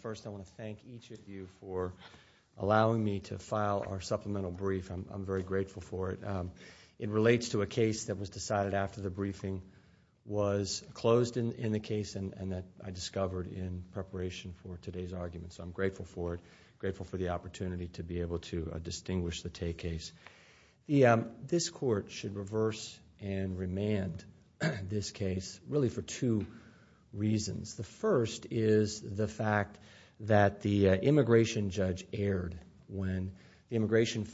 First, I want to thank each of you for allowing me to file our supplemental brief. I'm very grateful for it. It relates to a case that was decided after the briefing was closed in the case and that I discovered in preparation for today's argument, so I'm grateful for it, grateful for the opportunity to be able to distinguish the Tay case. This Court should reverse and remand this case really for two reasons. The first is the fact that the immigration judge erred when the immigration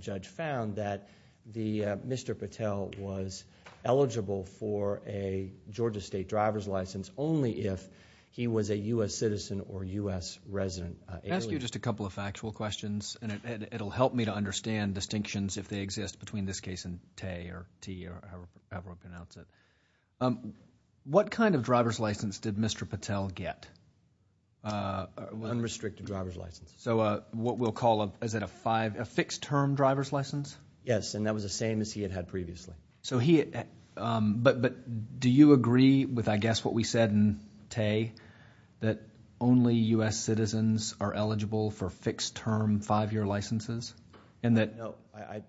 judge found that Mr. Patel was eligible for a Georgia State driver's license only if he was a U.S. citizen or U.S. resident alien. I'll ask you just a couple of factual questions and it'll help me to understand distinctions if they exist between this case and Tay or Tay or however I pronounce it. What kind of license? Unrestricted driver's license. So what we'll call, is it a fixed-term driver's license? Yes, and that was the same as he had had previously. But do you agree with, I guess, what we said in Tay that only U.S. citizens are eligible for fixed-term five-year licenses and that No,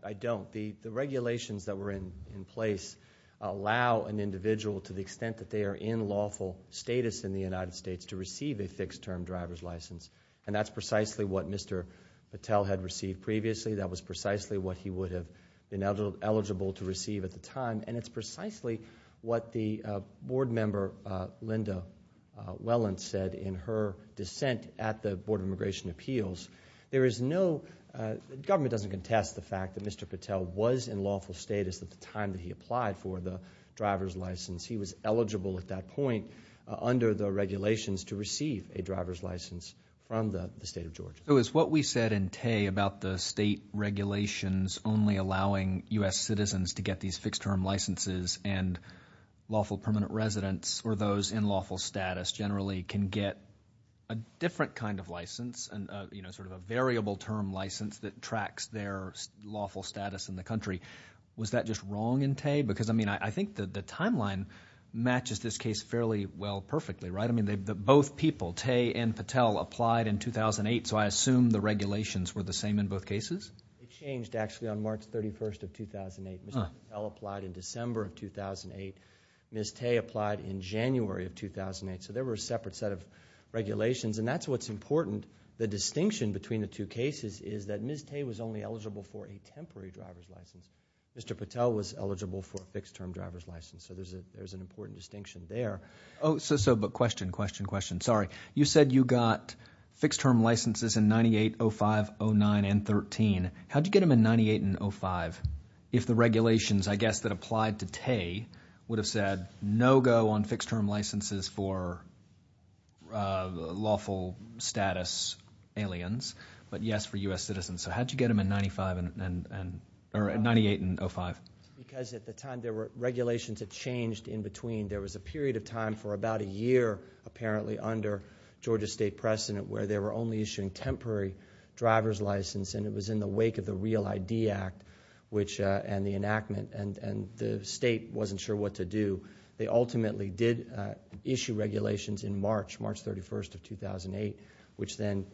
I don't. The regulations that were in place allow an individual to the extent that they are in lawful status in the United States to receive a fixed-term driver's license and that's precisely what Mr. Patel had received previously. That was precisely what he would have been eligible to receive at the time and it's precisely what the board member, Linda Welland, said in her dissent at the Board of Immigration Appeals. There is no... the government doesn't contest the fact that Mr. Patel was in lawful status at the time that he applied for the driver's license. He was eligible at that point under the regulations to receive a driver's license from the state of Georgia. So is what we said in Tay about the state regulations only allowing U.S. citizens to get these fixed-term licenses and lawful permanent residents or those in lawful status generally can get a different kind of license and, you know, sort of a variable-term license that attracts their lawful status in the country? Was that just wrong in Tay? Because, I mean, I think that the timeline matches this case fairly well perfectly, right? I mean, both people, Tay and Patel applied in 2008, so I assume the regulations were the same in both cases? It changed actually on March 31st of 2008. Mr. Patel applied in December of 2008. Ms. Tay applied in January of 2008. So there were separate set of regulations and that's what's important. The distinction between the two cases is that Ms. Tay was only eligible for a temporary driver's license. Mr. Patel was eligible for a fixed-term driver's license. So there's an important distinction there. Oh, so, but question, question, question. Sorry. You said you got fixed-term licenses in 98, 05, 09, and 13. How did you get them in 98 and 05 if the regulations, I guess, that applied to Tay would have said no go on fixed-term licenses for lawful status aliens, but yes for U.S. citizens? So how did you get them in 95 and, or 98 and 05? Because at the time there were, regulations had changed in between. There was a period of time for about a year, apparently, under Georgia State precedent where they were only issuing temporary driver's license and it was in the wake of the Real ID Act, which, and the enactment, and the state wasn't sure what to do. They ultimately did issue regulations in March, March 31st of 2008, which then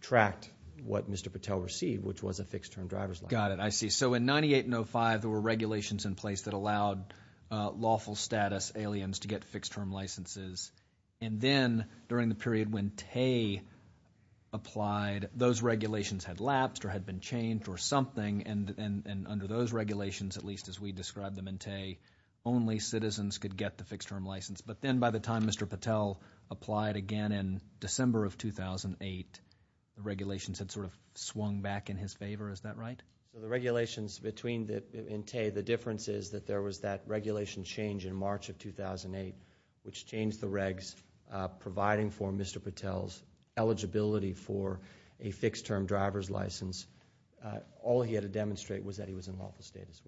tracked what Mr. Patel received, which was a fixed-term driver's license. Got it. I see. So in 98 and 05 there were regulations in place that allowed lawful status aliens to get fixed-term licenses. And then during the period when Tay applied, those regulations, at least as we described them in Tay, only citizens could get the fixed-term license. But then by the time Mr. Patel applied again in December of 2008, the regulations had sort of swung back in his favor. Is that right? The regulations between the, in Tay, the difference is that there was that regulation change in March of 2008, which changed the regs providing for Mr. Patel's eligibility for a fixed-term driver's license. All he had to demonstrate was that he was in lawful status,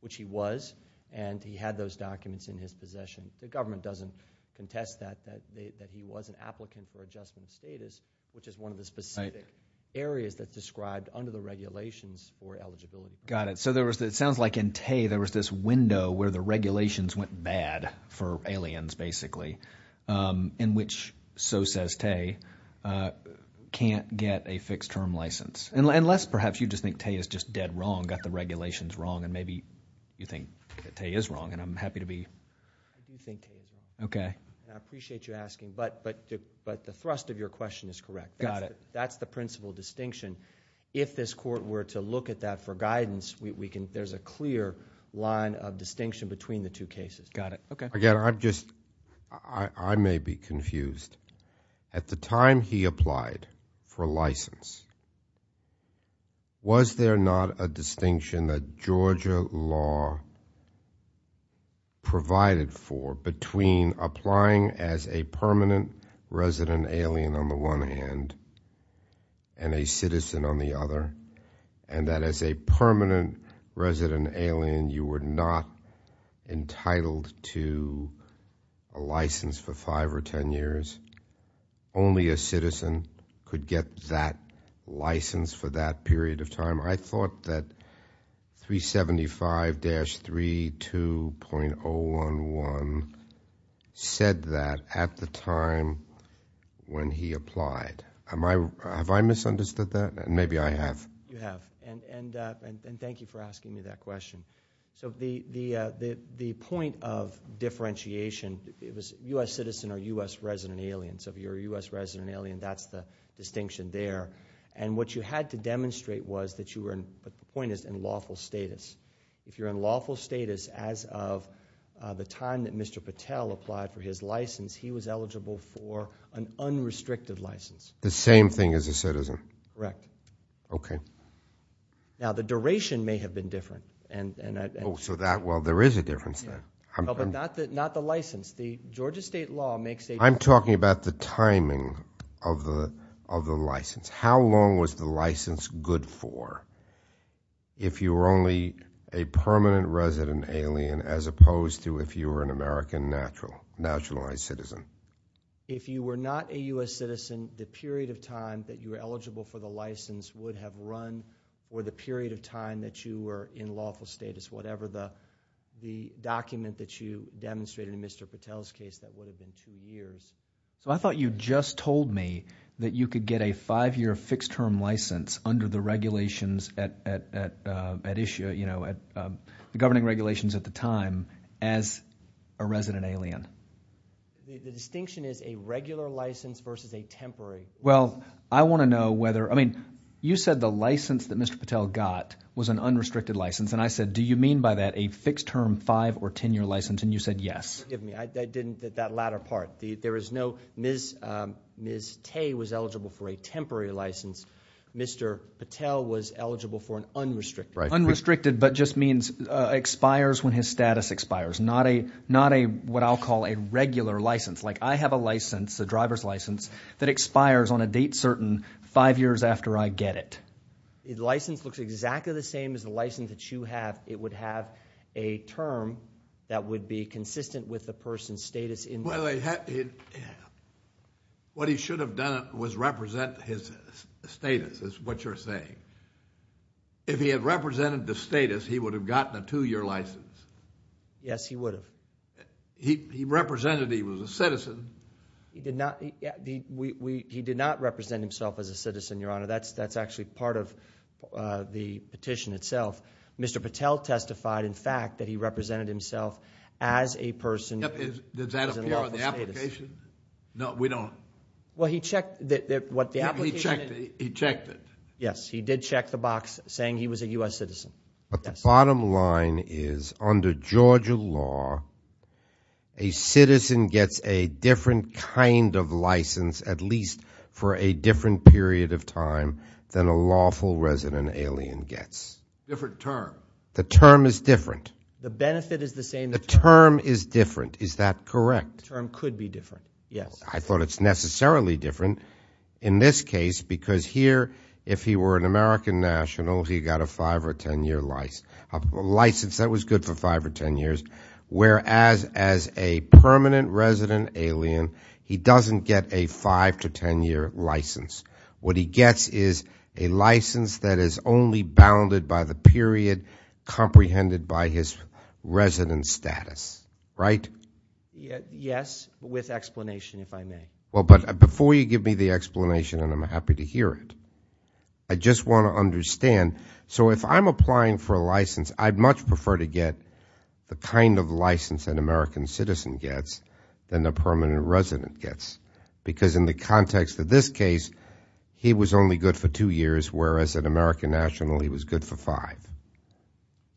which he was, and he had those documents in his possession. The government doesn't contest that, that he was an applicant for adjustment status, which is one of the specific areas that's described under the regulations for eligibility. Got it. So there was, it sounds like in Tay there was this window where the regulations went bad for aliens, basically, in which, so says Tay, can't get a fixed-term license. Unless perhaps you just think Tay is just dead wrong, got the regulations wrong, and maybe you think that Tay is wrong, and I'm happy to be. I do think Tay is wrong. I appreciate you asking, but the thrust of your question is correct. That's the principal distinction. If this court were to look at that for guidance, there's a clear line of distinction between the two cases. Got it. Okay. Again, I'm just, I may be confused. At the time he applied for license, was there not a distinction that Georgia law provided for between applying as a permanent resident alien on the one hand and a citizen on the other, and that as a permanent resident alien you were not entitled to a license for five or ten years? Only a citizen could get that license for that period of time. I thought that 375-32.011 said that at the time when he applied. Have I misunderstood that? Maybe I have. You have. Thank you for asking me that question. The point of differentiation, it was U.S. citizen or U.S. resident alien. If you're a U.S. resident alien, that's the distinction there. What you had to demonstrate was that you were in lawful status. If you're in lawful status as of the time that Mr. Patel applied for his license, he was eligible for an unrestricted license. The same thing as a citizen? Correct. Okay. Now, the duration may have been different. Oh, so that, well, there is a difference then. But not the license. The Georgia state law makes a... I'm talking about the timing of the license. How long was the license good for if you were only a permanent resident alien as opposed to if you were an American naturalized citizen? If you were not a U.S. citizen, the period of time that you were eligible for the license would have run or the period of time that you were in lawful status, whatever the document that you demonstrated in Mr. Patel's case, that would have been two years. I thought you just told me that you could get a five-year fixed term license under the regulations at issue... the governing regulations at the time as a resident alien. The distinction is a regular license versus a temporary license. Well, I want to know whether... I mean, you said the license that Mr. Patel got was an unrestricted license. And I said, do you mean by that a fixed term five- or ten-year license? And you said yes. Forgive me. I didn't... that latter part. There is no... Ms. Tay was eligible for a temporary license. Mr. Patel was eligible for an unrestricted. Unrestricted, but just means expires when his status expires. Not a... what I'll call a regular license. Like I have a license, a driver's license, that expires on a date certain five years after I get it. The license looks exactly the same as the license that you have. It would have a term that would be consistent with the person's status in... Well, what he should have done was represent his status, is what you're saying. If he had represented the status, he would have gotten a two-year license. Yes, he would have. He represented he was a citizen. He did not... he did not represent himself as a citizen, Your Honor. That's actually part of the petition itself. Mr. Patel testified, in fact, that he represented himself as a person... Does that appear on the application? No, we don't. Well, he checked... what the application... He checked it. Yes, he did check the box saying he was a U.S. citizen. But the bottom line is, under Georgia law, a citizen gets a different kind of license, at least for a different period of time, than a lawful resident alien gets. Different term. The term is different. The benefit is the same... The term is different. Is that correct? The term could be different, yes. I thought it's necessarily different, in this case, because here, if he were an American national, he got a five- or ten-year license. A license that was good for five or ten years. Whereas, as a permanent resident alien, he doesn't get a five- to ten-year license. What he gets is a license that is only bounded by the period comprehended by his resident status. Right? Yes, with explanation, if I may. Well, but before you give me the explanation, and I'm happy to hear it, I just want to understand... So, if I'm applying for a license, I'd much prefer to get the kind of license an American citizen gets, than the permanent resident gets. Because, in the context of this case, he was only good for two years, whereas, an American national, he was good for five.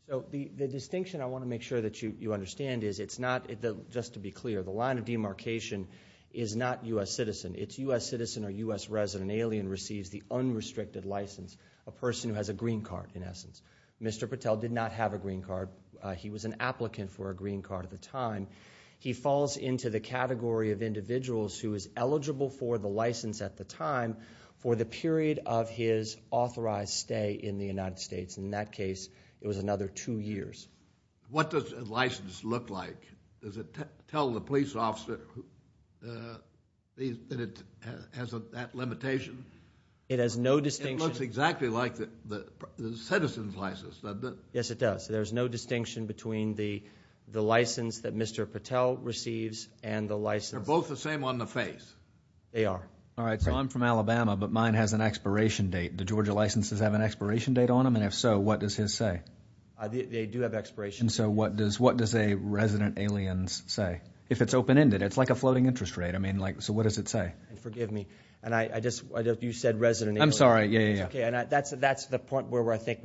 So, the distinction I want to make sure that you understand is, it's not... Just to be clear, the line of demarcation is not U.S. citizen. It's U.S. citizen or U.S. resident. An alien receives the unrestricted license. A person who has a green card, in essence. Mr. Patel did not have a green card. He was an applicant for a green card at the time. He falls into the category of individuals who is eligible for the license at the time, for the period of his authorized stay in the United States. In that case, it was another two years. What does a license look like? Does it tell the police officer that it has that limitation? It has no distinction... It looks exactly like the citizen's license, does it? Yes, it does. There's no distinction between the license that Mr. Patel receives and the license... They're both the same on the face. They are. All right. So, I'm from Alabama, but mine has an expiration date. Do Georgia licenses have an expiration date on them? And if so, what does his say? They do have expiration dates. And so, what does a resident alien say? If it's open-ended. It's like a floating interest rate. I mean, so what does it say? Forgive me. You said resident alien. I'm sorry. Yeah, yeah, yeah. That's the point where I think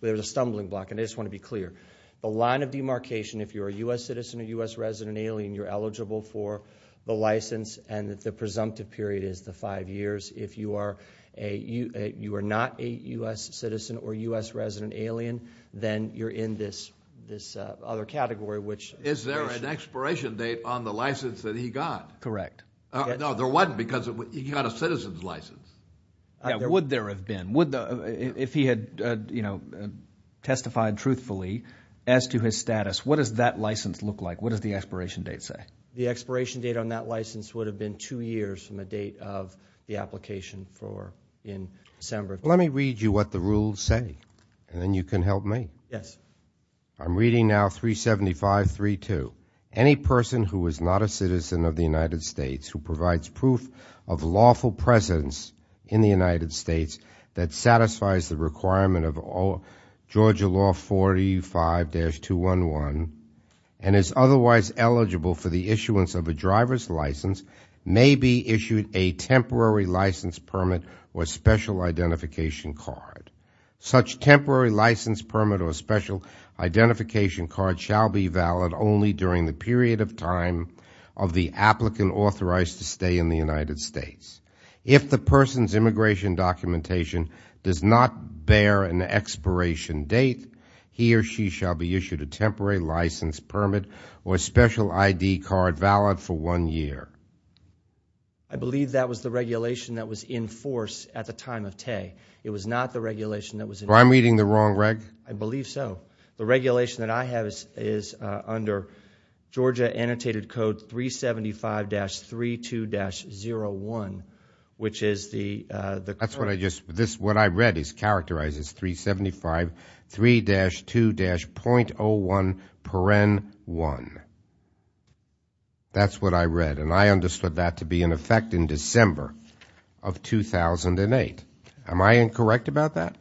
there's a stumbling block. And I just want to be clear. The line of demarcation, if you're a U.S. citizen or U.S. resident alien, you're eligible for the license. And the presumptive period is the five years. If you are not a U.S. citizen or U.S. resident alien, then you're in this other category, which... Is there an expiration date on the license that he got? Correct. No, there wasn't, because he got a citizen's license. Would there have been? If he had testified truthfully as to his status, what does that license look like? What does the expiration date say? The expiration date on that license would have been two years from the date of the application in December. Let me read you what the rules say, and then you can help me. Yes. I'm reading now 375.3.2. Any person who is not a citizen of the United States, who provides proof of lawful presence in the United States... license, may be issued a temporary license permit or special identification card. Such temporary license permit or special identification card shall be valid only during the period of time... of the applicant authorized to stay in the United States. If the person's immigration documentation does not bear an expiration date... he or she shall be issued a temporary license permit or special ID card valid for one year. I believe that was the regulation that was in force at the time of Tay. It was not the regulation that was... Well, I'm reading the wrong reg. I believe so. The regulation that I have is under Georgia Annotated Code 375-32-01, which is the... 375-32-01.1. That's what I read, and I understood that to be in effect in December of 2008. Am I incorrect about that?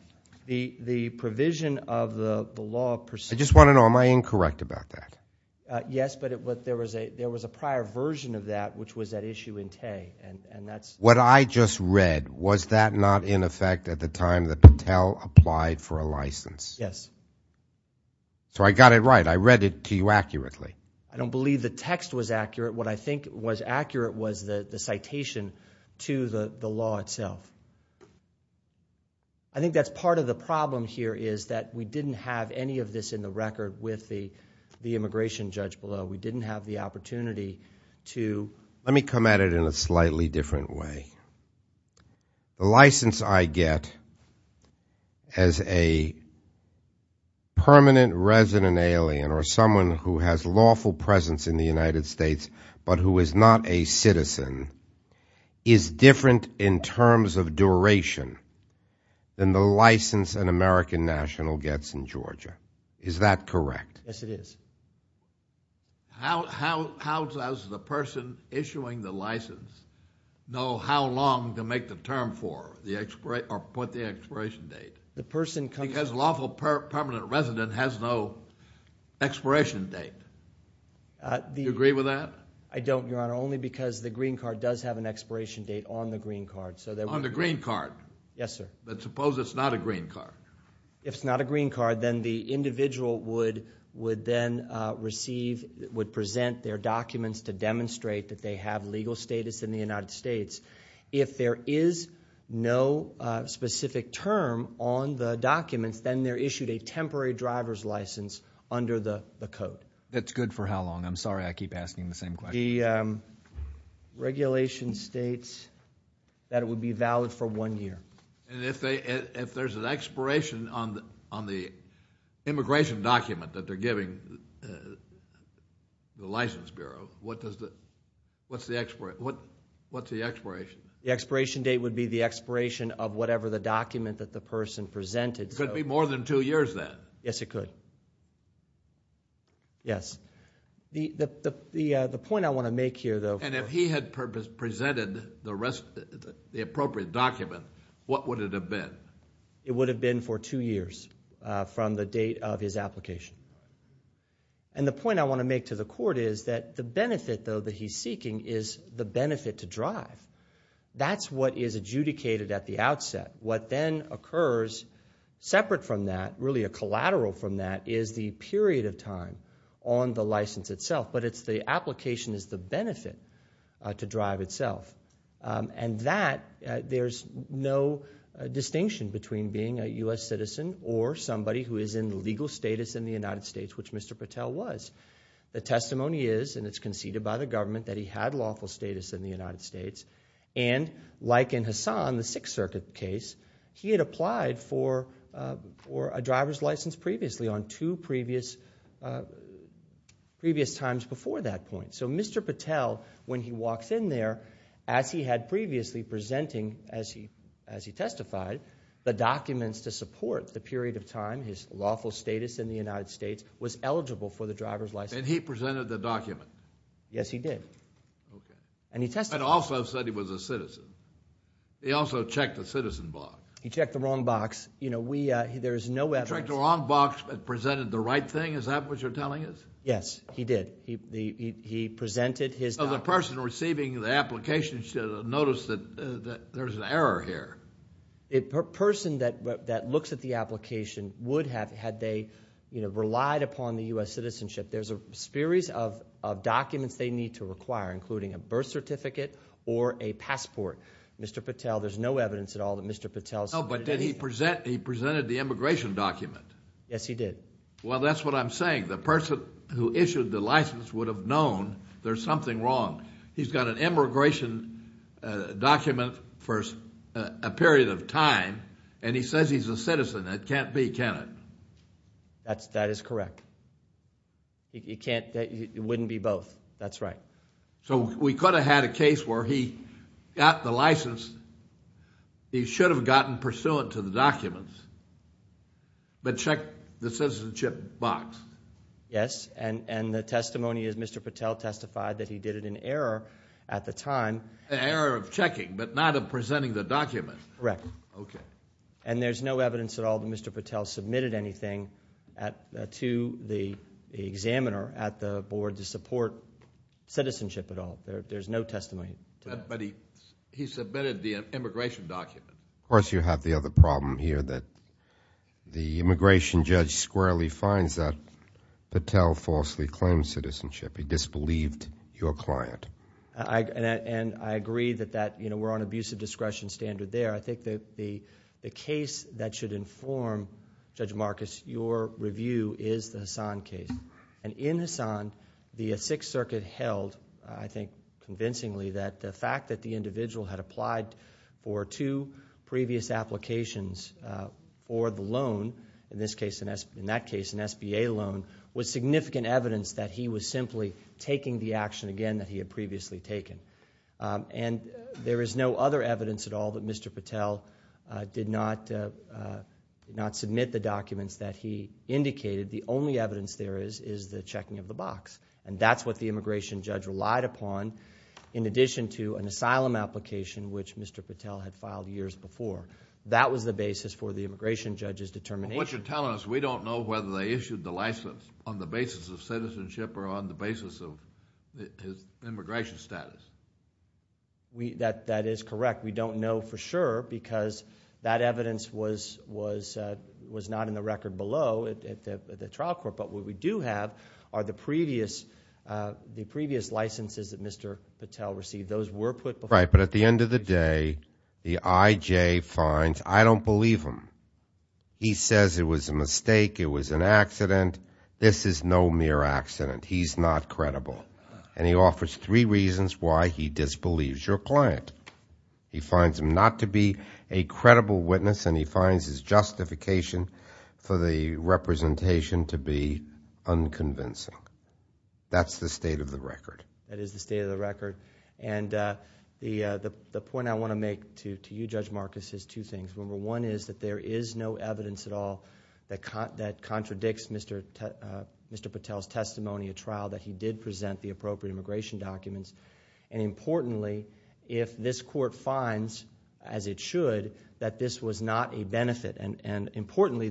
The provision of the law... I just want to know, am I incorrect about that? Yes, but there was a prior version of that, which was at issue in Tay, and that's... What I just read, was that not in effect at the time that Patel applied for a license? Yes. So, I got it right. I read it to you accurately. I don't believe the text was accurate. What I think was accurate was the citation to the law itself. I think that's part of the problem here, is that we didn't have any of this in the record with the immigration judge below. We didn't have the opportunity to... Let me come at it in a slightly different way. The license I get as a permanent resident alien, or someone who has lawful presence in the United States, but who is not a citizen, is different in terms of duration than the license an American national gets in Georgia. Is that correct? Yes, it is. How does the person issuing the license know how long to make the term for, or put the expiration date? Because a lawful permanent resident has no expiration date. Do you agree with that? I don't, Your Honor, only because the green card does have an expiration date on the green card. On the green card? Yes, sir. But suppose it's not a green card. If it's not a green card, then the individual would present their documents to demonstrate that they have legal status in the United States. If there is no specific term on the documents, then they're issued a temporary driver's license under the code. That's good for how long? I'm sorry I keep asking the same question. The regulation states that it would be valid for one year. And if there's an expiration on the immigration document that they're giving the License Bureau, what's the expiration? The expiration date would be the expiration of whatever the document that the person presented. Could it be more than two years then? Yes, it could. Yes. The point I want to make here, though. And if he had presented the appropriate document, what would it have been? It would have been for two years from the date of his application. And the point I want to make to the court is that the benefit, though, that he's seeking is the benefit to drive. That's what is adjudicated at the outset. What then occurs separate from that, really a collateral from that, is the period of time on the license itself. But the application is the benefit to drive itself. And that, there's no distinction between being a U.S. citizen or somebody who is in legal status in the United States, which Mr. Patel was. The testimony is, and it's conceded by the government, that he had lawful status in the United States. And like in Hassan, the Sixth Circuit case, he had applied for a driver's license previously on two previous times before that point. So Mr. Patel, when he walks in there, as he had previously presenting, as he testified, the documents to support the period of time his lawful status in the United States was eligible for the driver's license. And he presented the document? Yes, he did. Okay. And he testified. But also said he was a citizen. He also checked the citizen box. He checked the wrong box. You know, we, there's no evidence. He checked the wrong box but presented the right thing? Is that what you're telling us? Yes, he did. He presented his document. So the person receiving the application should notice that there's an error here. A person that looks at the application would have, had they, you know, relied upon the U.S. citizenship, there's a series of documents they need to require, including a birth certificate or a passport. Mr. Patel, there's no evidence at all that Mr. Patel. No, but did he present, he presented the immigration document? Yes, he did. Well, that's what I'm saying. The person who issued the license would have known there's something wrong. He's got an immigration document for a period of time, and he says he's a citizen. That can't be, can it? That is correct. It can't, it wouldn't be both. That's right. So we could have had a case where he got the license. He should have gotten pursuant to the documents but checked the citizenship box. Yes, and the testimony is Mr. Patel testified that he did it in error at the time. An error of checking but not of presenting the document. Correct. Okay. And there's no evidence at all that Mr. Patel submitted anything to the examiner at the board to support citizenship at all. There's no testimony. But he submitted the immigration document. Of course, you have the other problem here that the immigration judge squarely finds that Patel falsely claimed citizenship. He disbelieved your client. And I agree that that, you know, we're on abusive discretion standard there. I think the case that should inform, Judge Marcus, your review is the Hassan case. And in Hassan, the Sixth Circuit held, I think convincingly, that the fact that the individual had applied for two previous applications for the loan, in this case, in that case, an SBA loan, was significant evidence that he was simply taking the action again that he had previously taken. And there is no other evidence at all that Mr. Patel did not submit the documents that he indicated. The only evidence there is is the checking of the box. And that's what the immigration judge relied upon in addition to an asylum application which Mr. Patel had filed years before. That was the basis for the immigration judge's determination. What you're telling us, we don't know whether they issued the license on the basis of citizenship or on the basis of his immigration status. That is correct. We don't know for sure because that evidence was not in the record below at the trial court. But what we do have are the previous licenses that Mr. Patel received. Those were put before. Right, but at the end of the day, the IJ finds, I don't believe him. He says it was a mistake, it was an accident. This is no mere accident. He's not credible. And he offers three reasons why he disbelieves your client. He finds him not to be a credible witness and he finds his justification for the representation to be unconvincing. That's the state of the record. That is the state of the record. And the point I want to make to you, Judge Marcus, is two things. Number one is that there is no evidence at all that contradicts Mr. Patel's testimony at trial that he did present the appropriate immigration documents. And importantly, if this court finds, as it should, that this was not a benefit. And importantly,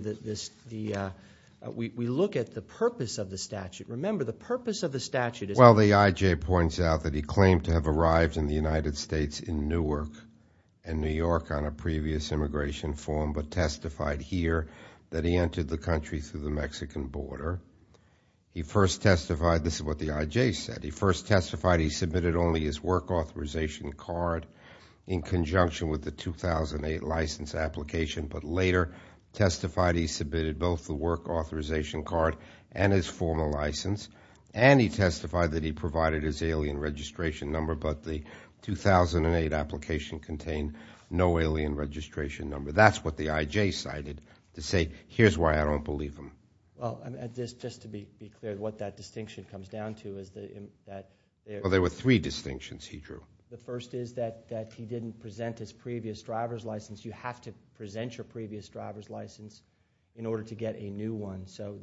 we look at the purpose of the statute. Remember, the purpose of the statute is... Well, the IJ points out that he claimed to have arrived in the United States in Newark, on a previous immigration form, but testified here that he entered the country through the Mexican border. He first testified... this is what the IJ said... He first testified he submitted only his work authorization card in conjunction with the 2008 license application, but later testified he submitted both the work authorization card and his formal license. And he testified that he provided his alien registration number, but the 2008 application contained no alien registration number. That's what the IJ cited to say, here's why I don't believe him. Well, just to be clear, what that distinction comes down to is that... Well, there were three distinctions he drew. The first is that he didn't present his previous driver's license. You have to present your previous driver's license in order to get a new one. So,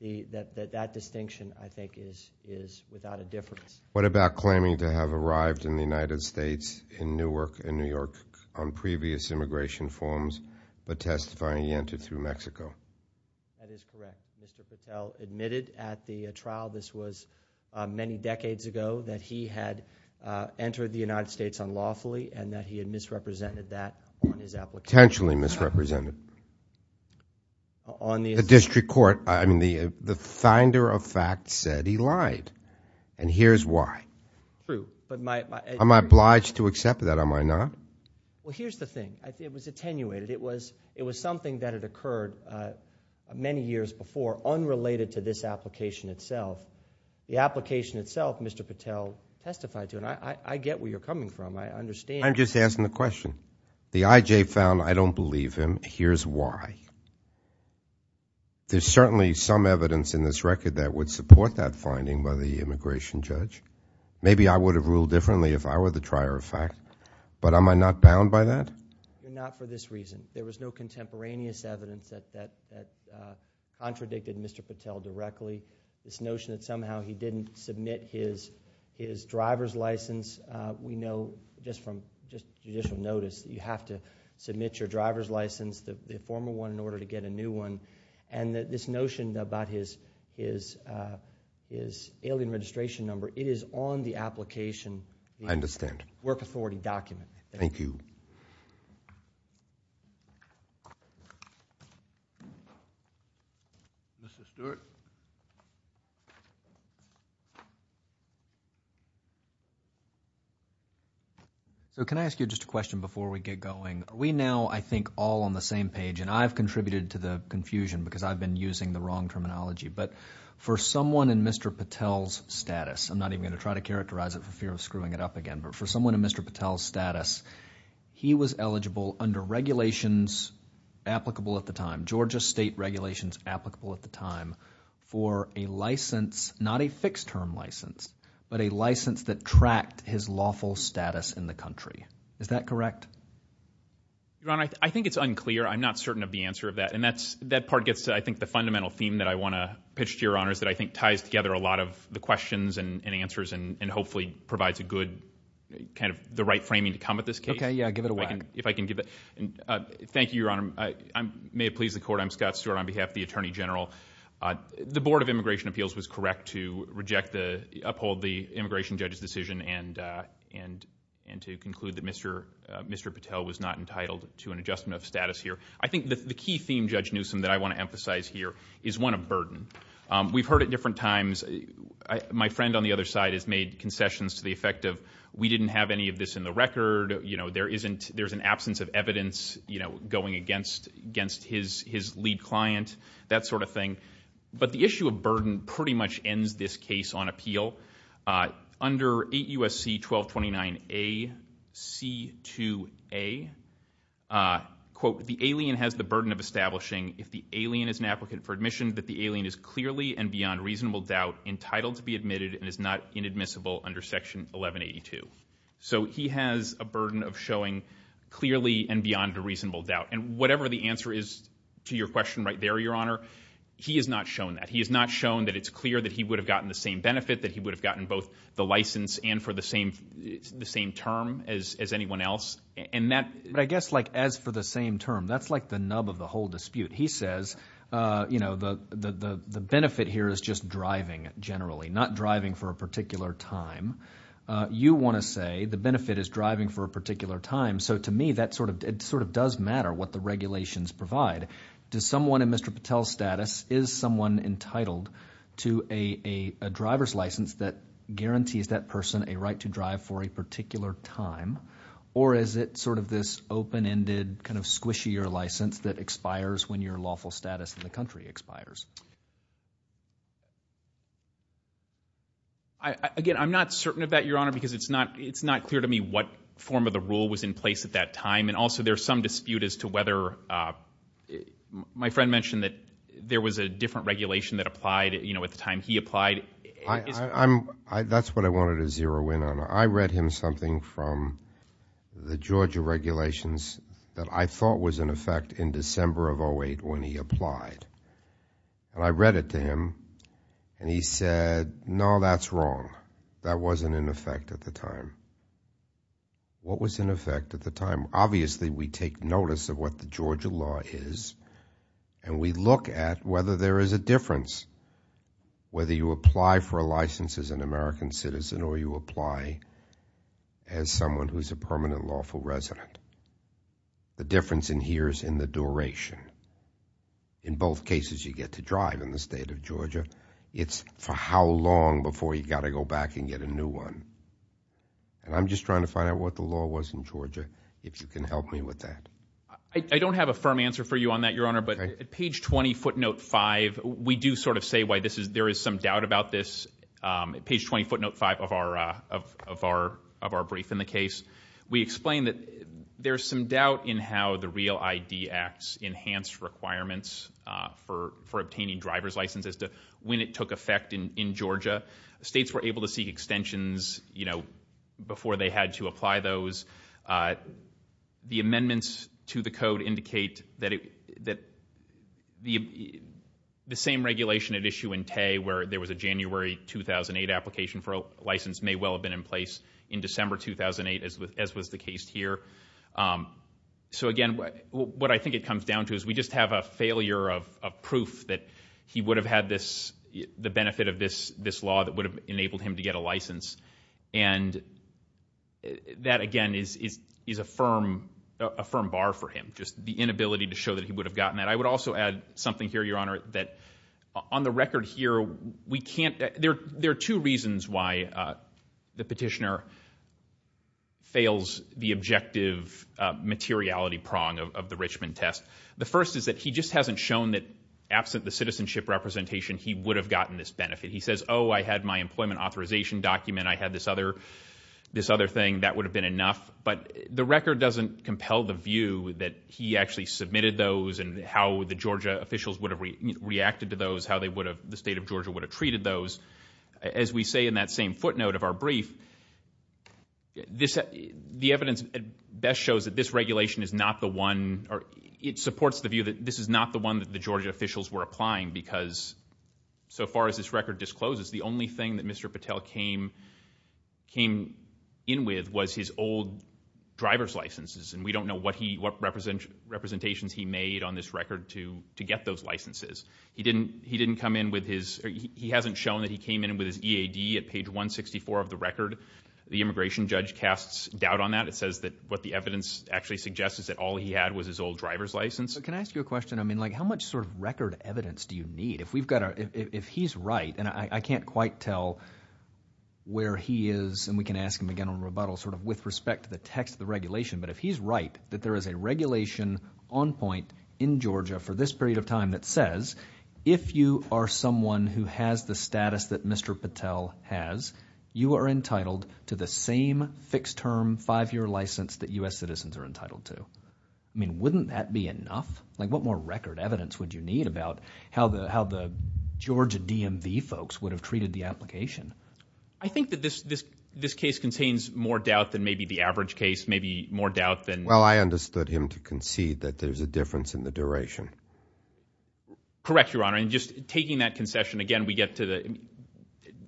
that distinction, I think, is without a difference. What about claiming to have arrived in the United States in Newark, in New York, on previous immigration forms, but testifying he entered through Mexico? That is correct. Mr. Patel admitted at the trial, this was many decades ago, that he had entered the United States unlawfully and that he had misrepresented that on his application. Potentially misrepresented. On the... The district court, I mean, the finder of fact said he lied, and here's why. True, but my... Am I obliged to accept that, am I not? Well, here's the thing. It was attenuated. It was something that had occurred many years before, unrelated to this application itself. The application itself, Mr. Patel testified to, and I get where you're coming from. I understand... I'm just asking the question. The IJ found, I don't believe him. Here's why. There's certainly some evidence in this record that would support that finding by the immigration judge. Maybe I would have ruled differently if I were the trier of fact, but am I not bound by that? Not for this reason. There was no contemporaneous evidence that contradicted Mr. Patel directly. This notion that somehow he didn't submit his driver's license. We know just from judicial notice that you have to submit your driver's license, the former one, in order to get a new one, and that this notion about his alien registration number, it is on the application... I understand.... work authority document. Thank you. Thank you. Mr. Stewart? So, can I ask you just a question before we get going? We now, I think, all on the same page, and I've contributed to the confusion because I've been using the wrong terminology. But, for someone in Mr. Patel's status, I'm not even going to try to characterize it for fear of screwing it up again. But, for someone in Mr. Patel's status, he was eligible under regulations applicable at the time, Georgia state regulations applicable at the time, for a license, not a fixed term license, but a license that tracked his lawful status in the country. Is that correct? Your Honor, I think it's unclear. I'm not certain of the answer of that. And that part gets to, I think, the fundamental theme that I want to pitch to Your Honor, is that I think ties together a lot of the questions and answers, and hopefully provides a good, kind of the right framing to come at this case. Okay, yeah, give it away. If I can give it... Thank you, Your Honor. May it please the Court, I'm Scott Stewart on behalf of the Attorney General. The Board of Immigration Appeals was correct to reject the... uphold the immigration judge's decision and to conclude that Mr. Patel was not entitled to an adjustment of status here. I think the key theme, Judge Newsom, that I want to emphasize here is one of burden. We've heard it different times. My friend on the other side has made concessions to the effect of, we didn't have any of this in the record. You know, there's an absence of evidence, you know, going against his lead client, that sort of thing. But the issue of burden pretty much ends this case on appeal. Under 8 U.S.C. 1229 A.C. 2A, quote, if the alien has the burden of establishing, if the alien is an applicant for admission, that the alien is clearly and beyond reasonable doubt entitled to be admitted and is not inadmissible under Section 1182. So he has a burden of showing clearly and beyond a reasonable doubt. And whatever the answer is to your question right there, Your Honor, he has not shown that. He has not shown that it's clear that he would have gotten the same benefit, that he would have gotten both the license and for the same term as anyone else. But I guess like as for the same term, that's like the nub of the whole dispute. He says, you know, the benefit here is just driving generally, not driving for a particular time. You want to say the benefit is driving for a particular time. So to me, that sort of does matter what the regulations provide. Does someone in Mr. Patel's status, is someone entitled to a driver's license that guarantees that person a right to drive for a particular time or is it sort of this open-ended kind of squishier license that expires when your lawful status in the country expires? Again, I'm not certain of that, Your Honor, because it's not clear to me what form of the rule was in place at that time. And also there's some dispute as to whether my friend mentioned that there was a different regulation that applied, you know, at the time he applied. That's what I wanted to zero in on. I read him something from the Georgia regulations that I thought was in effect in December of 08 when he applied. And I read it to him and he said, no, that's wrong. That wasn't in effect at the time. What was in effect at the time? Obviously, we take notice of what the Georgia law is and we look at whether there is a difference, whether you apply for a license as an American citizen or you apply as someone who's a permanent lawful resident. The difference in here is in the duration. In both cases, you get to drive in the state of Georgia. It's for how long before you've got to go back and get a new one. And I'm just trying to find out what the law was in Georgia, if you can help me with that. I don't have a firm answer for you on that, Your Honor, but at page 20, footnote 5, we do sort of say why there is some doubt about this. At page 20, footnote 5 of our brief in the case, we explain that there's some doubt in how the REAL ID Act's enhanced requirements for obtaining driver's licenses as to when it took effect in Georgia. States were able to seek extensions before they had to apply those. The amendments to the code indicate that the same regulation at issue in Tay where there was a January 2008 application for a license may well have been in place in December 2008, as was the case here. So again, what I think it comes down to is we just have a failure of proof that he would have had the benefit of this law that would have enabled him to get a license. And that, again, is a firm bar for him, just the inability to show that he would have gotten that. I would also add something here, Your Honor, that on the record here, there are two reasons why the petitioner fails the objective materiality prong of the Richmond test. The first is that he just hasn't shown that absent the citizenship representation, he would have gotten this benefit. He says, oh, I had my employment authorization document, I had this other thing, that would have been enough. But the record doesn't compel the view that he actually submitted those and how the Georgia officials would have reacted to those, how the state of Georgia would have treated those. As we say in that same footnote of our brief, the evidence best shows that this regulation is not the one, or it supports the view that this is not the one that the Georgia officials were applying because so far as this record discloses, the only thing that Mr. Patel came in with was his old driver's licenses. And we don't know what representations he made on this record to get those licenses. He hasn't shown that he came in with his EAD at page 164 of the record. The immigration judge casts doubt on that. It says that what the evidence actually suggests is that all he had was his old driver's license. But can I ask you a question? I mean like how much sort of record evidence do you need? If he's right, and I can't quite tell where he is, and we can ask him again on rebuttal sort of with respect to the text of the regulation, but if he's right that there is a regulation on point in Georgia for this period of time that says if you are someone who has the status that Mr. Patel has, you are entitled to the same fixed term five-year license that U.S. citizens are entitled to. I mean wouldn't that be enough? Like what more record evidence would you need about how the Georgia DMV folks would have treated the application? I think that this case contains more doubt than maybe the average case, maybe more doubt than – Well, I understood him to concede that there's a difference in the duration. Correct, Your Honor. And just taking that concession again, we get to the –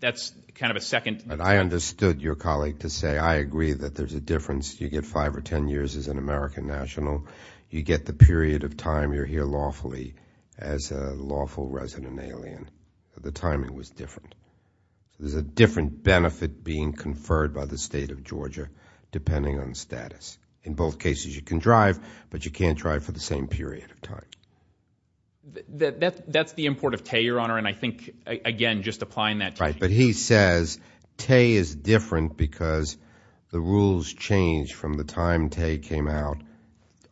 that's kind of a second – But I understood your colleague to say I agree that there's a difference. You get five or ten years as an American national. You get the period of time you're here lawfully as a lawful resident alien. At the time, it was different. There's a different benefit being conferred by the State of Georgia depending on status. In both cases, you can drive, but you can't drive for the same period of time. That's the import of Tay, Your Honor, and I think, again, just applying that – Right, but he says Tay is different because the rules changed from the time Tay came out,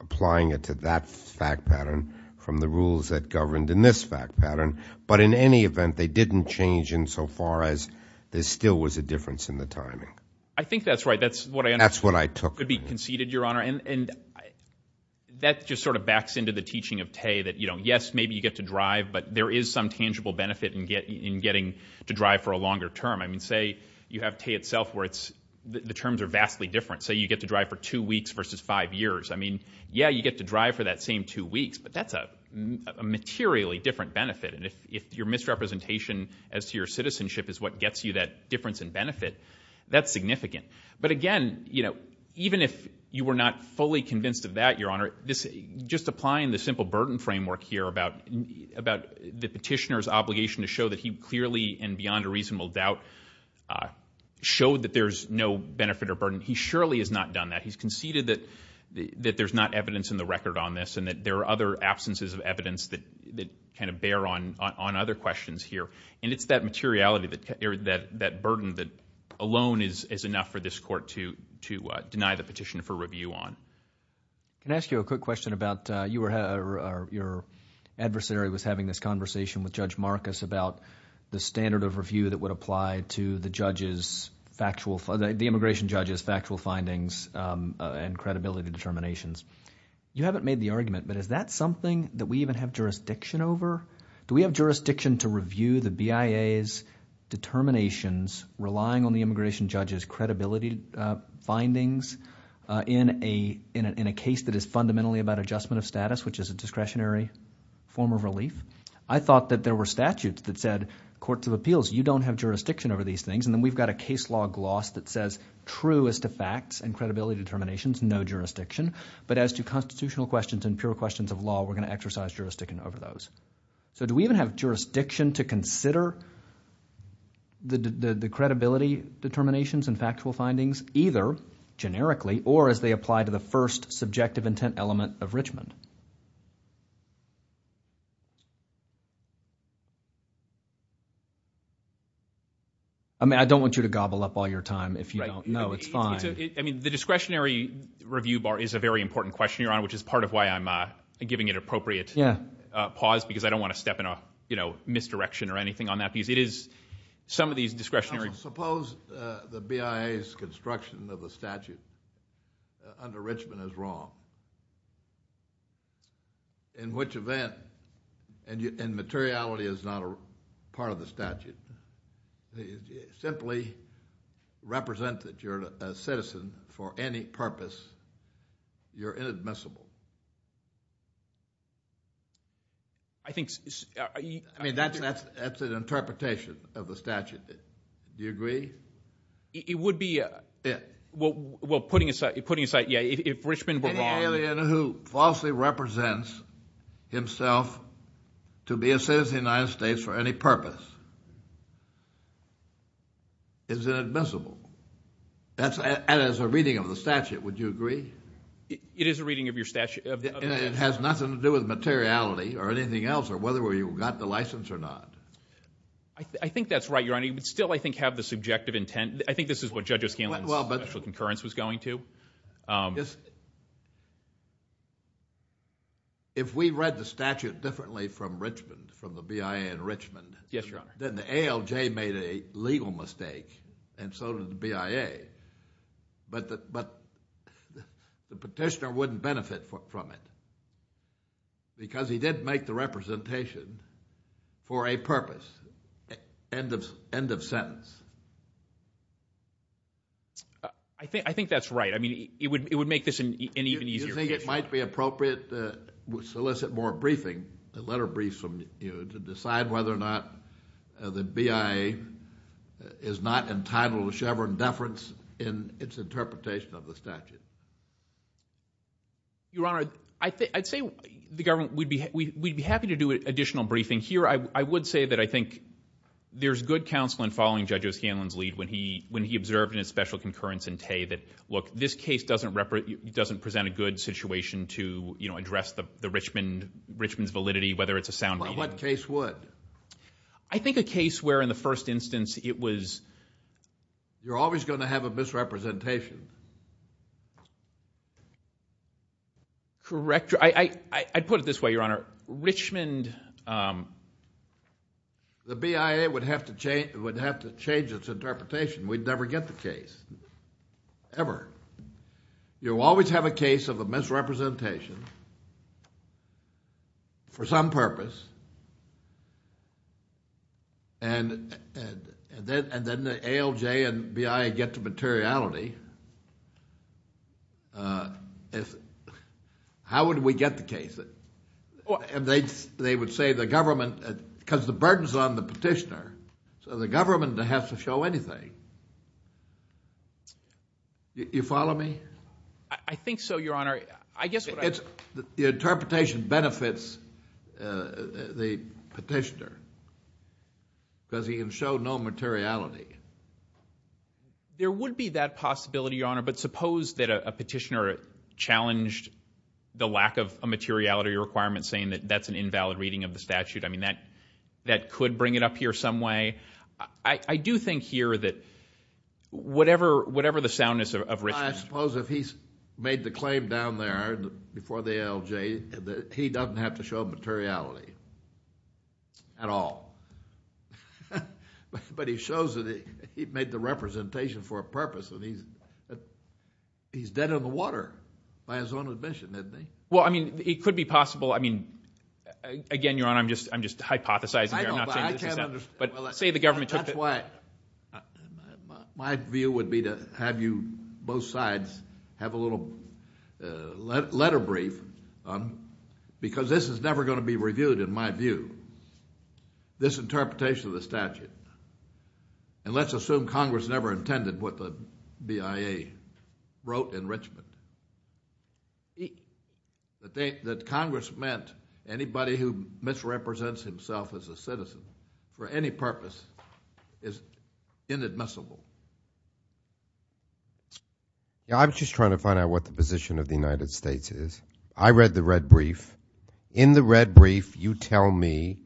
applying it to that fact pattern from the rules that governed in this fact pattern. But in any event, they didn't change insofar as there still was a difference in the timing. I think that's right. That's what I understood. That's what I took from him. It could be conceded, Your Honor, and that just sort of backs into the teaching of Tay that, yes, maybe you get to drive, but there is some tangible benefit in getting to drive for a longer term. I mean, say you have Tay itself where the terms are vastly different. Say you get to drive for two weeks versus five years. I mean, yeah, you get to drive for that same two weeks, but that's a materially different benefit. And if your misrepresentation as to your citizenship is what gets you that difference in benefit, that's significant. But, again, even if you were not fully convinced of that, Your Honor, just applying the simple burden framework here about the petitioner's obligation to show that he clearly and beyond a reasonable doubt showed that there's no benefit or burden, he surely has not done that. He's conceded that there's not evidence in the record on this and that there are other absences of evidence that kind of bear on other questions here. And it's that materiality, that burden that alone is enough for this court to deny the petition for review on. Can I ask you a quick question about your adversary was having this conversation with Judge Marcus about the standard of review that would apply to the judge's factual, the immigration judge's factual findings and credibility determinations. You haven't made the argument, but is that something that we even have jurisdiction over? Do we have jurisdiction to review the BIA's determinations relying on the immigration judge's credibility findings in a case that is fundamentally about adjustment of status, which is a discretionary form of relief? I thought that there were statutes that said courts of appeals, you don't have jurisdiction over these things. And then we've got a case law gloss that says true as to facts and credibility determinations, no jurisdiction. But as to constitutional questions and pure questions of law, we're going to exercise jurisdiction over those. So do we even have jurisdiction to consider the credibility determinations and factual findings, either generically or as they apply to the first subjective intent element of Richmond? I mean, I don't want you to gobble up all your time if you don't know. It's fine. I mean, the discretionary review bar is a very important question, Your Honor, which is part of why I'm giving it appropriate pause, because I don't want to step in a misdirection or anything on that. Because it is some of these discretionary... Suppose the BIA's construction of a statute under Richmond is wrong, in which event, and materiality is not a part of the statute, simply represent that you're a citizen for any purpose, you're inadmissible. I think... I mean, that's an interpretation of the statute. Do you agree? It would be... Yeah. Well, putting aside, yeah, if Richmond were wrong... to be a citizen of the United States for any purpose is inadmissible. That is a reading of the statute. Would you agree? It is a reading of your statute. It has nothing to do with materiality or anything else or whether you got the license or not. I think that's right, Your Honor. You still, I think, have the subjective intent. I think this is what Judge O'Scanlan's special concurrence was going to. Just... If we read the statute differently from Richmond, from the BIA in Richmond... Yes, Your Honor. Then the ALJ made a legal mistake and so did the BIA. But the petitioner wouldn't benefit from it because he didn't make the representation for a purpose. End of sentence. I think that's right. I mean, it would make this an even easier petition. Do you think it might be appropriate to solicit more briefing, a letter of briefs from you, to decide whether or not the BIA is not entitled to Chevron deference in its interpretation of the statute? Your Honor, I'd say the government, we'd be happy to do additional briefing. Here, I would say that I think there's good counsel in following Judge O'Scanlan's lead when he observed in his special concurrence in Tay that, look, this case doesn't present a good situation to, you know, address the Richmond's validity, whether it's a sound reading. What case would? I think a case where, in the first instance, it was... You're always going to have a misrepresentation. Correct. I'd put it this way, Your Honor. Richmond... The BIA would have to change its interpretation. We'd never get the case. Ever. You always have a case of a misrepresentation for some purpose, and then the ALJ and BIA get to materiality. How would we get the case? And they would say the government... Because the burden's on the petitioner, so the government has to show anything. You follow me? I think so, Your Honor. I guess what I... The interpretation benefits the petitioner because he can show no materiality. There would be that possibility, Your Honor, but suppose that a petitioner challenged the lack of a materiality requirement, saying that that's an invalid reading of the statute. I mean, that could bring it up here some way. I do think here that whatever the soundness of Richmond... I suppose if he's made the claim down there, before the ALJ, that he doesn't have to show materiality at all. But he shows that he made the representation for a purpose, and he's dead in the water by his own admission, isn't he? Well, I mean, it could be possible. I mean, again, Your Honor, I'm just hypothesizing here. I'm not saying this is... I know, but I can't understand... But say the government took it... That's why... My view would be to have you, both sides, have a little letter brief because this is never going to be reviewed, in my view, this interpretation of the statute. And let's assume Congress never intended what the BIA wrote in Richmond. That Congress meant anybody who misrepresents himself as a citizen for any purpose is inadmissible. I'm just trying to find out what the position of the United States is. I read the red brief. In the red brief, you tell me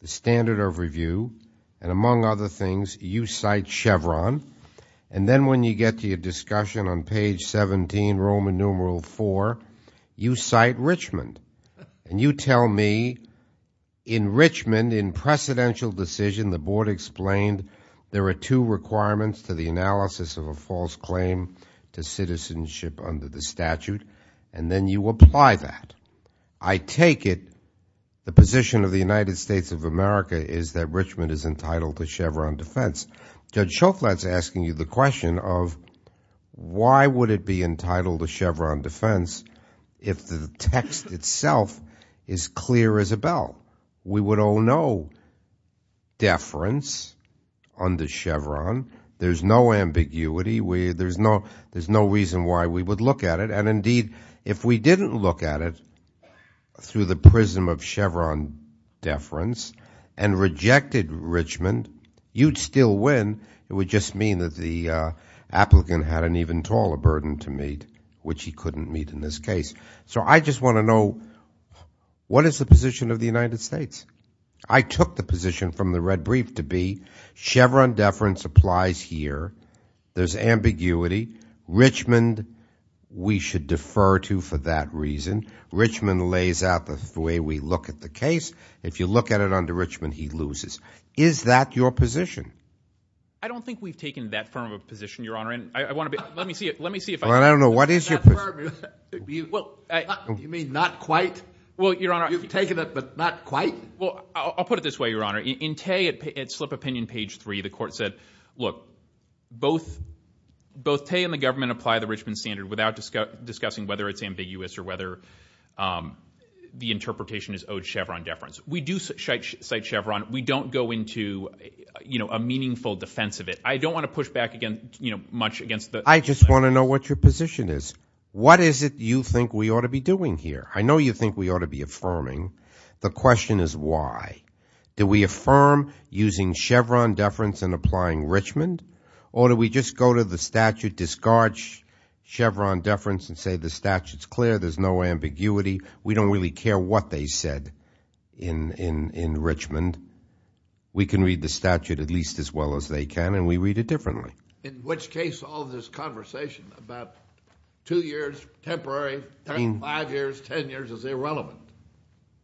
the standard of review, and among other things, you cite Chevron. And then when you get to your discussion on page 17, Roman numeral 4, you cite Richmond. And you tell me in Richmond, in precedential decision, the board explained there are two requirements to the analysis of a false claim to citizenship under the statute, and then you apply that. I take it the position of the United States of America is that Richmond is entitled to Chevron defense. Judge Schofield is asking you the question of why would it be entitled to Chevron defense if the text itself is clear as a bell? We would owe no deference under Chevron. There's no ambiguity. There's no reason why we would look at it. And indeed, if we didn't look at it through the prism of Chevron deference and rejected Richmond, you'd still win. It would just mean that the applicant had an even taller burden to meet, which he couldn't meet in this case. So I just want to know what is the position of the United States? I took the position from the red brief to be Chevron deference applies here. There's ambiguity. Richmond we should defer to for that reason. Richmond lays out the way we look at the case. If you look at it under Richmond, he loses. Is that your position? I don't think we've taken that firm of a position, Your Honor. And I want to be let me see it. Let me see if I don't know. What is your purpose? Well, you mean not quite? Well, Your Honor, you've taken it, but not quite. Well, I'll put it this way, Your Honor. In Tate at Slip Opinion, page three, the court said, look, both both Tate and the government apply the Richmond standard without discussing whether it's ambiguous or whether the interpretation is owed Chevron deference. We do cite Chevron. We don't go into, you know, a meaningful defense of it. I don't want to push back against, you know, much against the I just want to know what your position is. What is it you think we ought to be doing here? I know you think we ought to be affirming. The question is why? Do we affirm using Chevron deference and applying Richmond? Or do we just go to the statute, discard Chevron deference and say the statute's clear, there's no ambiguity, we don't really care what they said in Richmond. We can read the statute at least as well as they can, and we read it differently. In which case all this conversation about two years, temporary, five years, ten years is irrelevant.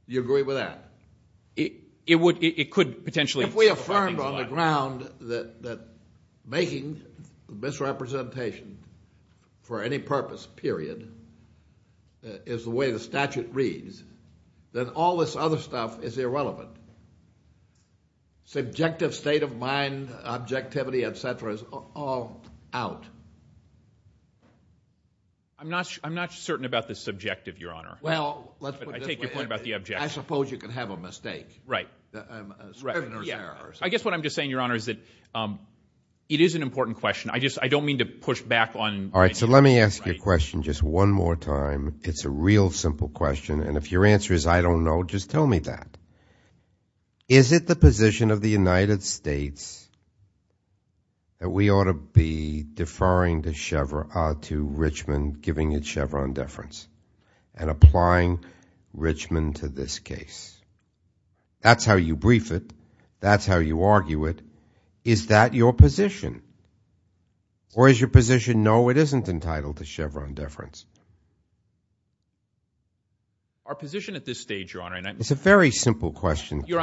Do you agree with that? It could potentially. If we affirmed on the ground that making misrepresentation for any purpose, period, is the way the statute reads, then all this other stuff is irrelevant. Subjective state of mind, objectivity, et cetera, is all out. I'm not certain about the subjective, Your Honor. Well, let's put it this way. I take your point about the objective. I suppose you could have a mistake. Right. I guess what I'm just saying, Your Honor, is that it is an important question. I just don't mean to push back on my answer. All right, so let me ask you a question just one more time. It's a real simple question, and if your answer is I don't know, just tell me that. Is it the position of the United States that we ought to be deferring to Richmond, giving it Chevron deference, and applying Richmond to this case? That's how you brief it. That's how you argue it. Is that your position? Or is your position, no, it isn't entitled to Chevron deference? Our position at this stage, Your Honor, and I'm going to say this. It's a very simple question, counsel. Your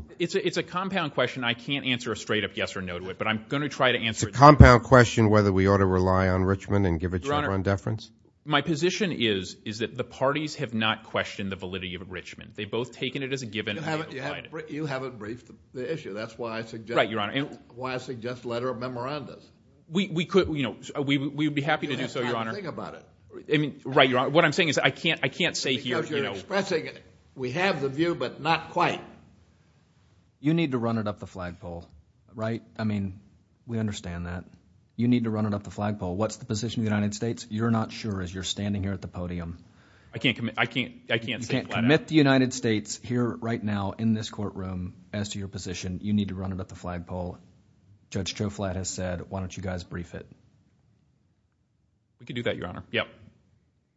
Honor, it's a compound question. I can't answer a straight up yes or no to it, but I'm going to try to answer it. It's a compound question whether we ought to rely on Richmond and give it Chevron deference? Your Honor, my position is, is that the parties have not questioned the validity of Richmond. They've both taken it as a given and they've applied it. You haven't briefed the issue. That's why I suggest letter of memorandum. We would be happy to do so, Your Honor. Think about it. Right, Your Honor. What I'm saying is I can't say here. Because you're expressing it. We have the view, but not quite. You need to run it up the flagpole, right? I mean, we understand that. You need to run it up the flagpole. What's the position of the United States? You're not sure as you're standing here at the podium. I can't say flat out. You can't commit the United States here right now in this courtroom as to your position. You need to run it up the flagpole. Judge Joe Flatt has said, why don't you guys brief it? We can do that, Your Honor. Yep,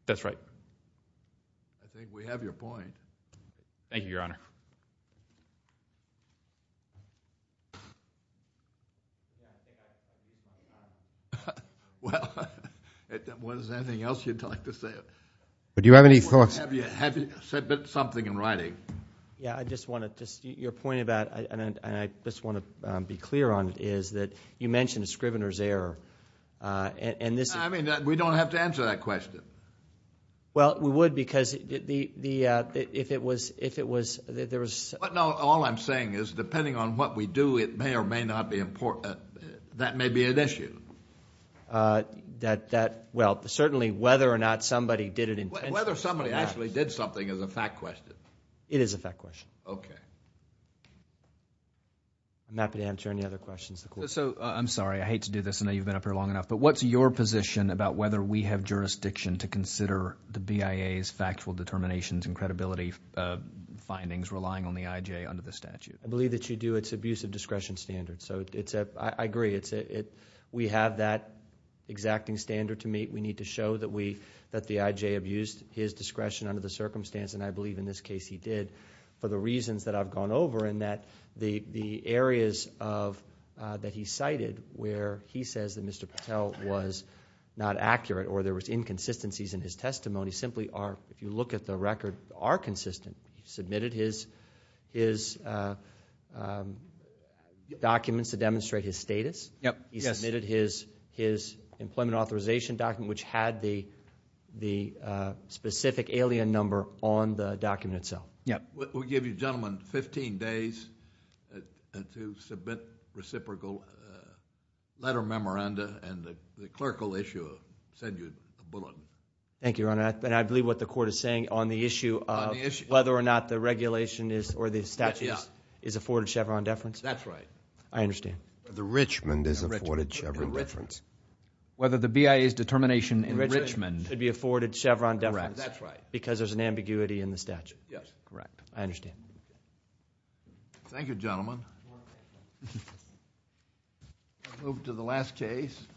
that's right. I think we have your point. Thank you, Your Honor. Well, was there anything else you'd like to say? Do you have any thoughts? Have you said something in writing? Yeah, I just want to, your point about, and I just want to be clear on it, is that you mentioned a scrivener's error. I mean, we don't have to answer that question. Well, we would because if it was, there was. No, all I'm saying is depending on what we do, it may or may not be important. That may be an issue. Well, certainly whether or not somebody did it intentionally or not. Whether somebody actually did something is a fact question. It is a fact question. Okay. I'm happy to answer any other questions. I'm sorry. I hate to do this. I know you've been up here long enough, but what's your position about whether we have jurisdiction to consider the BIA's factual determinations and credibility findings relying on the IJ under the statute? I believe that you do. It's abuse of discretion standards. I agree. We have that exacting standard to meet. We need to show that the IJ abused his discretion under the circumstance, and I believe in this case he did, for the reasons that I've gone over in that the areas that he cited where he says that Mr. Patel was not accurate or there was inconsistencies in his testimony simply are, if you look at the record, are consistent. He submitted his documents to demonstrate his status. He submitted his employment authorization document, which had the specific alien number on the document itself. Yes. We'll give you, gentlemen, 15 days to submit reciprocal letter of memoranda and the clerical issue of a bulletin. Thank you, Your Honor. I believe what the court is saying on the issue of whether or not the regulation or the statute is afforded Chevron deference. That's right. I understand. The Richmond is afforded Chevron deference. Whether the BIA's determination in Richmond... Should be afforded Chevron deference. Correct. That's right. Because there's an ambiguity in the statute. Yes. Correct. I understand. Thank you, gentlemen. You're welcome. We'll move to the last case.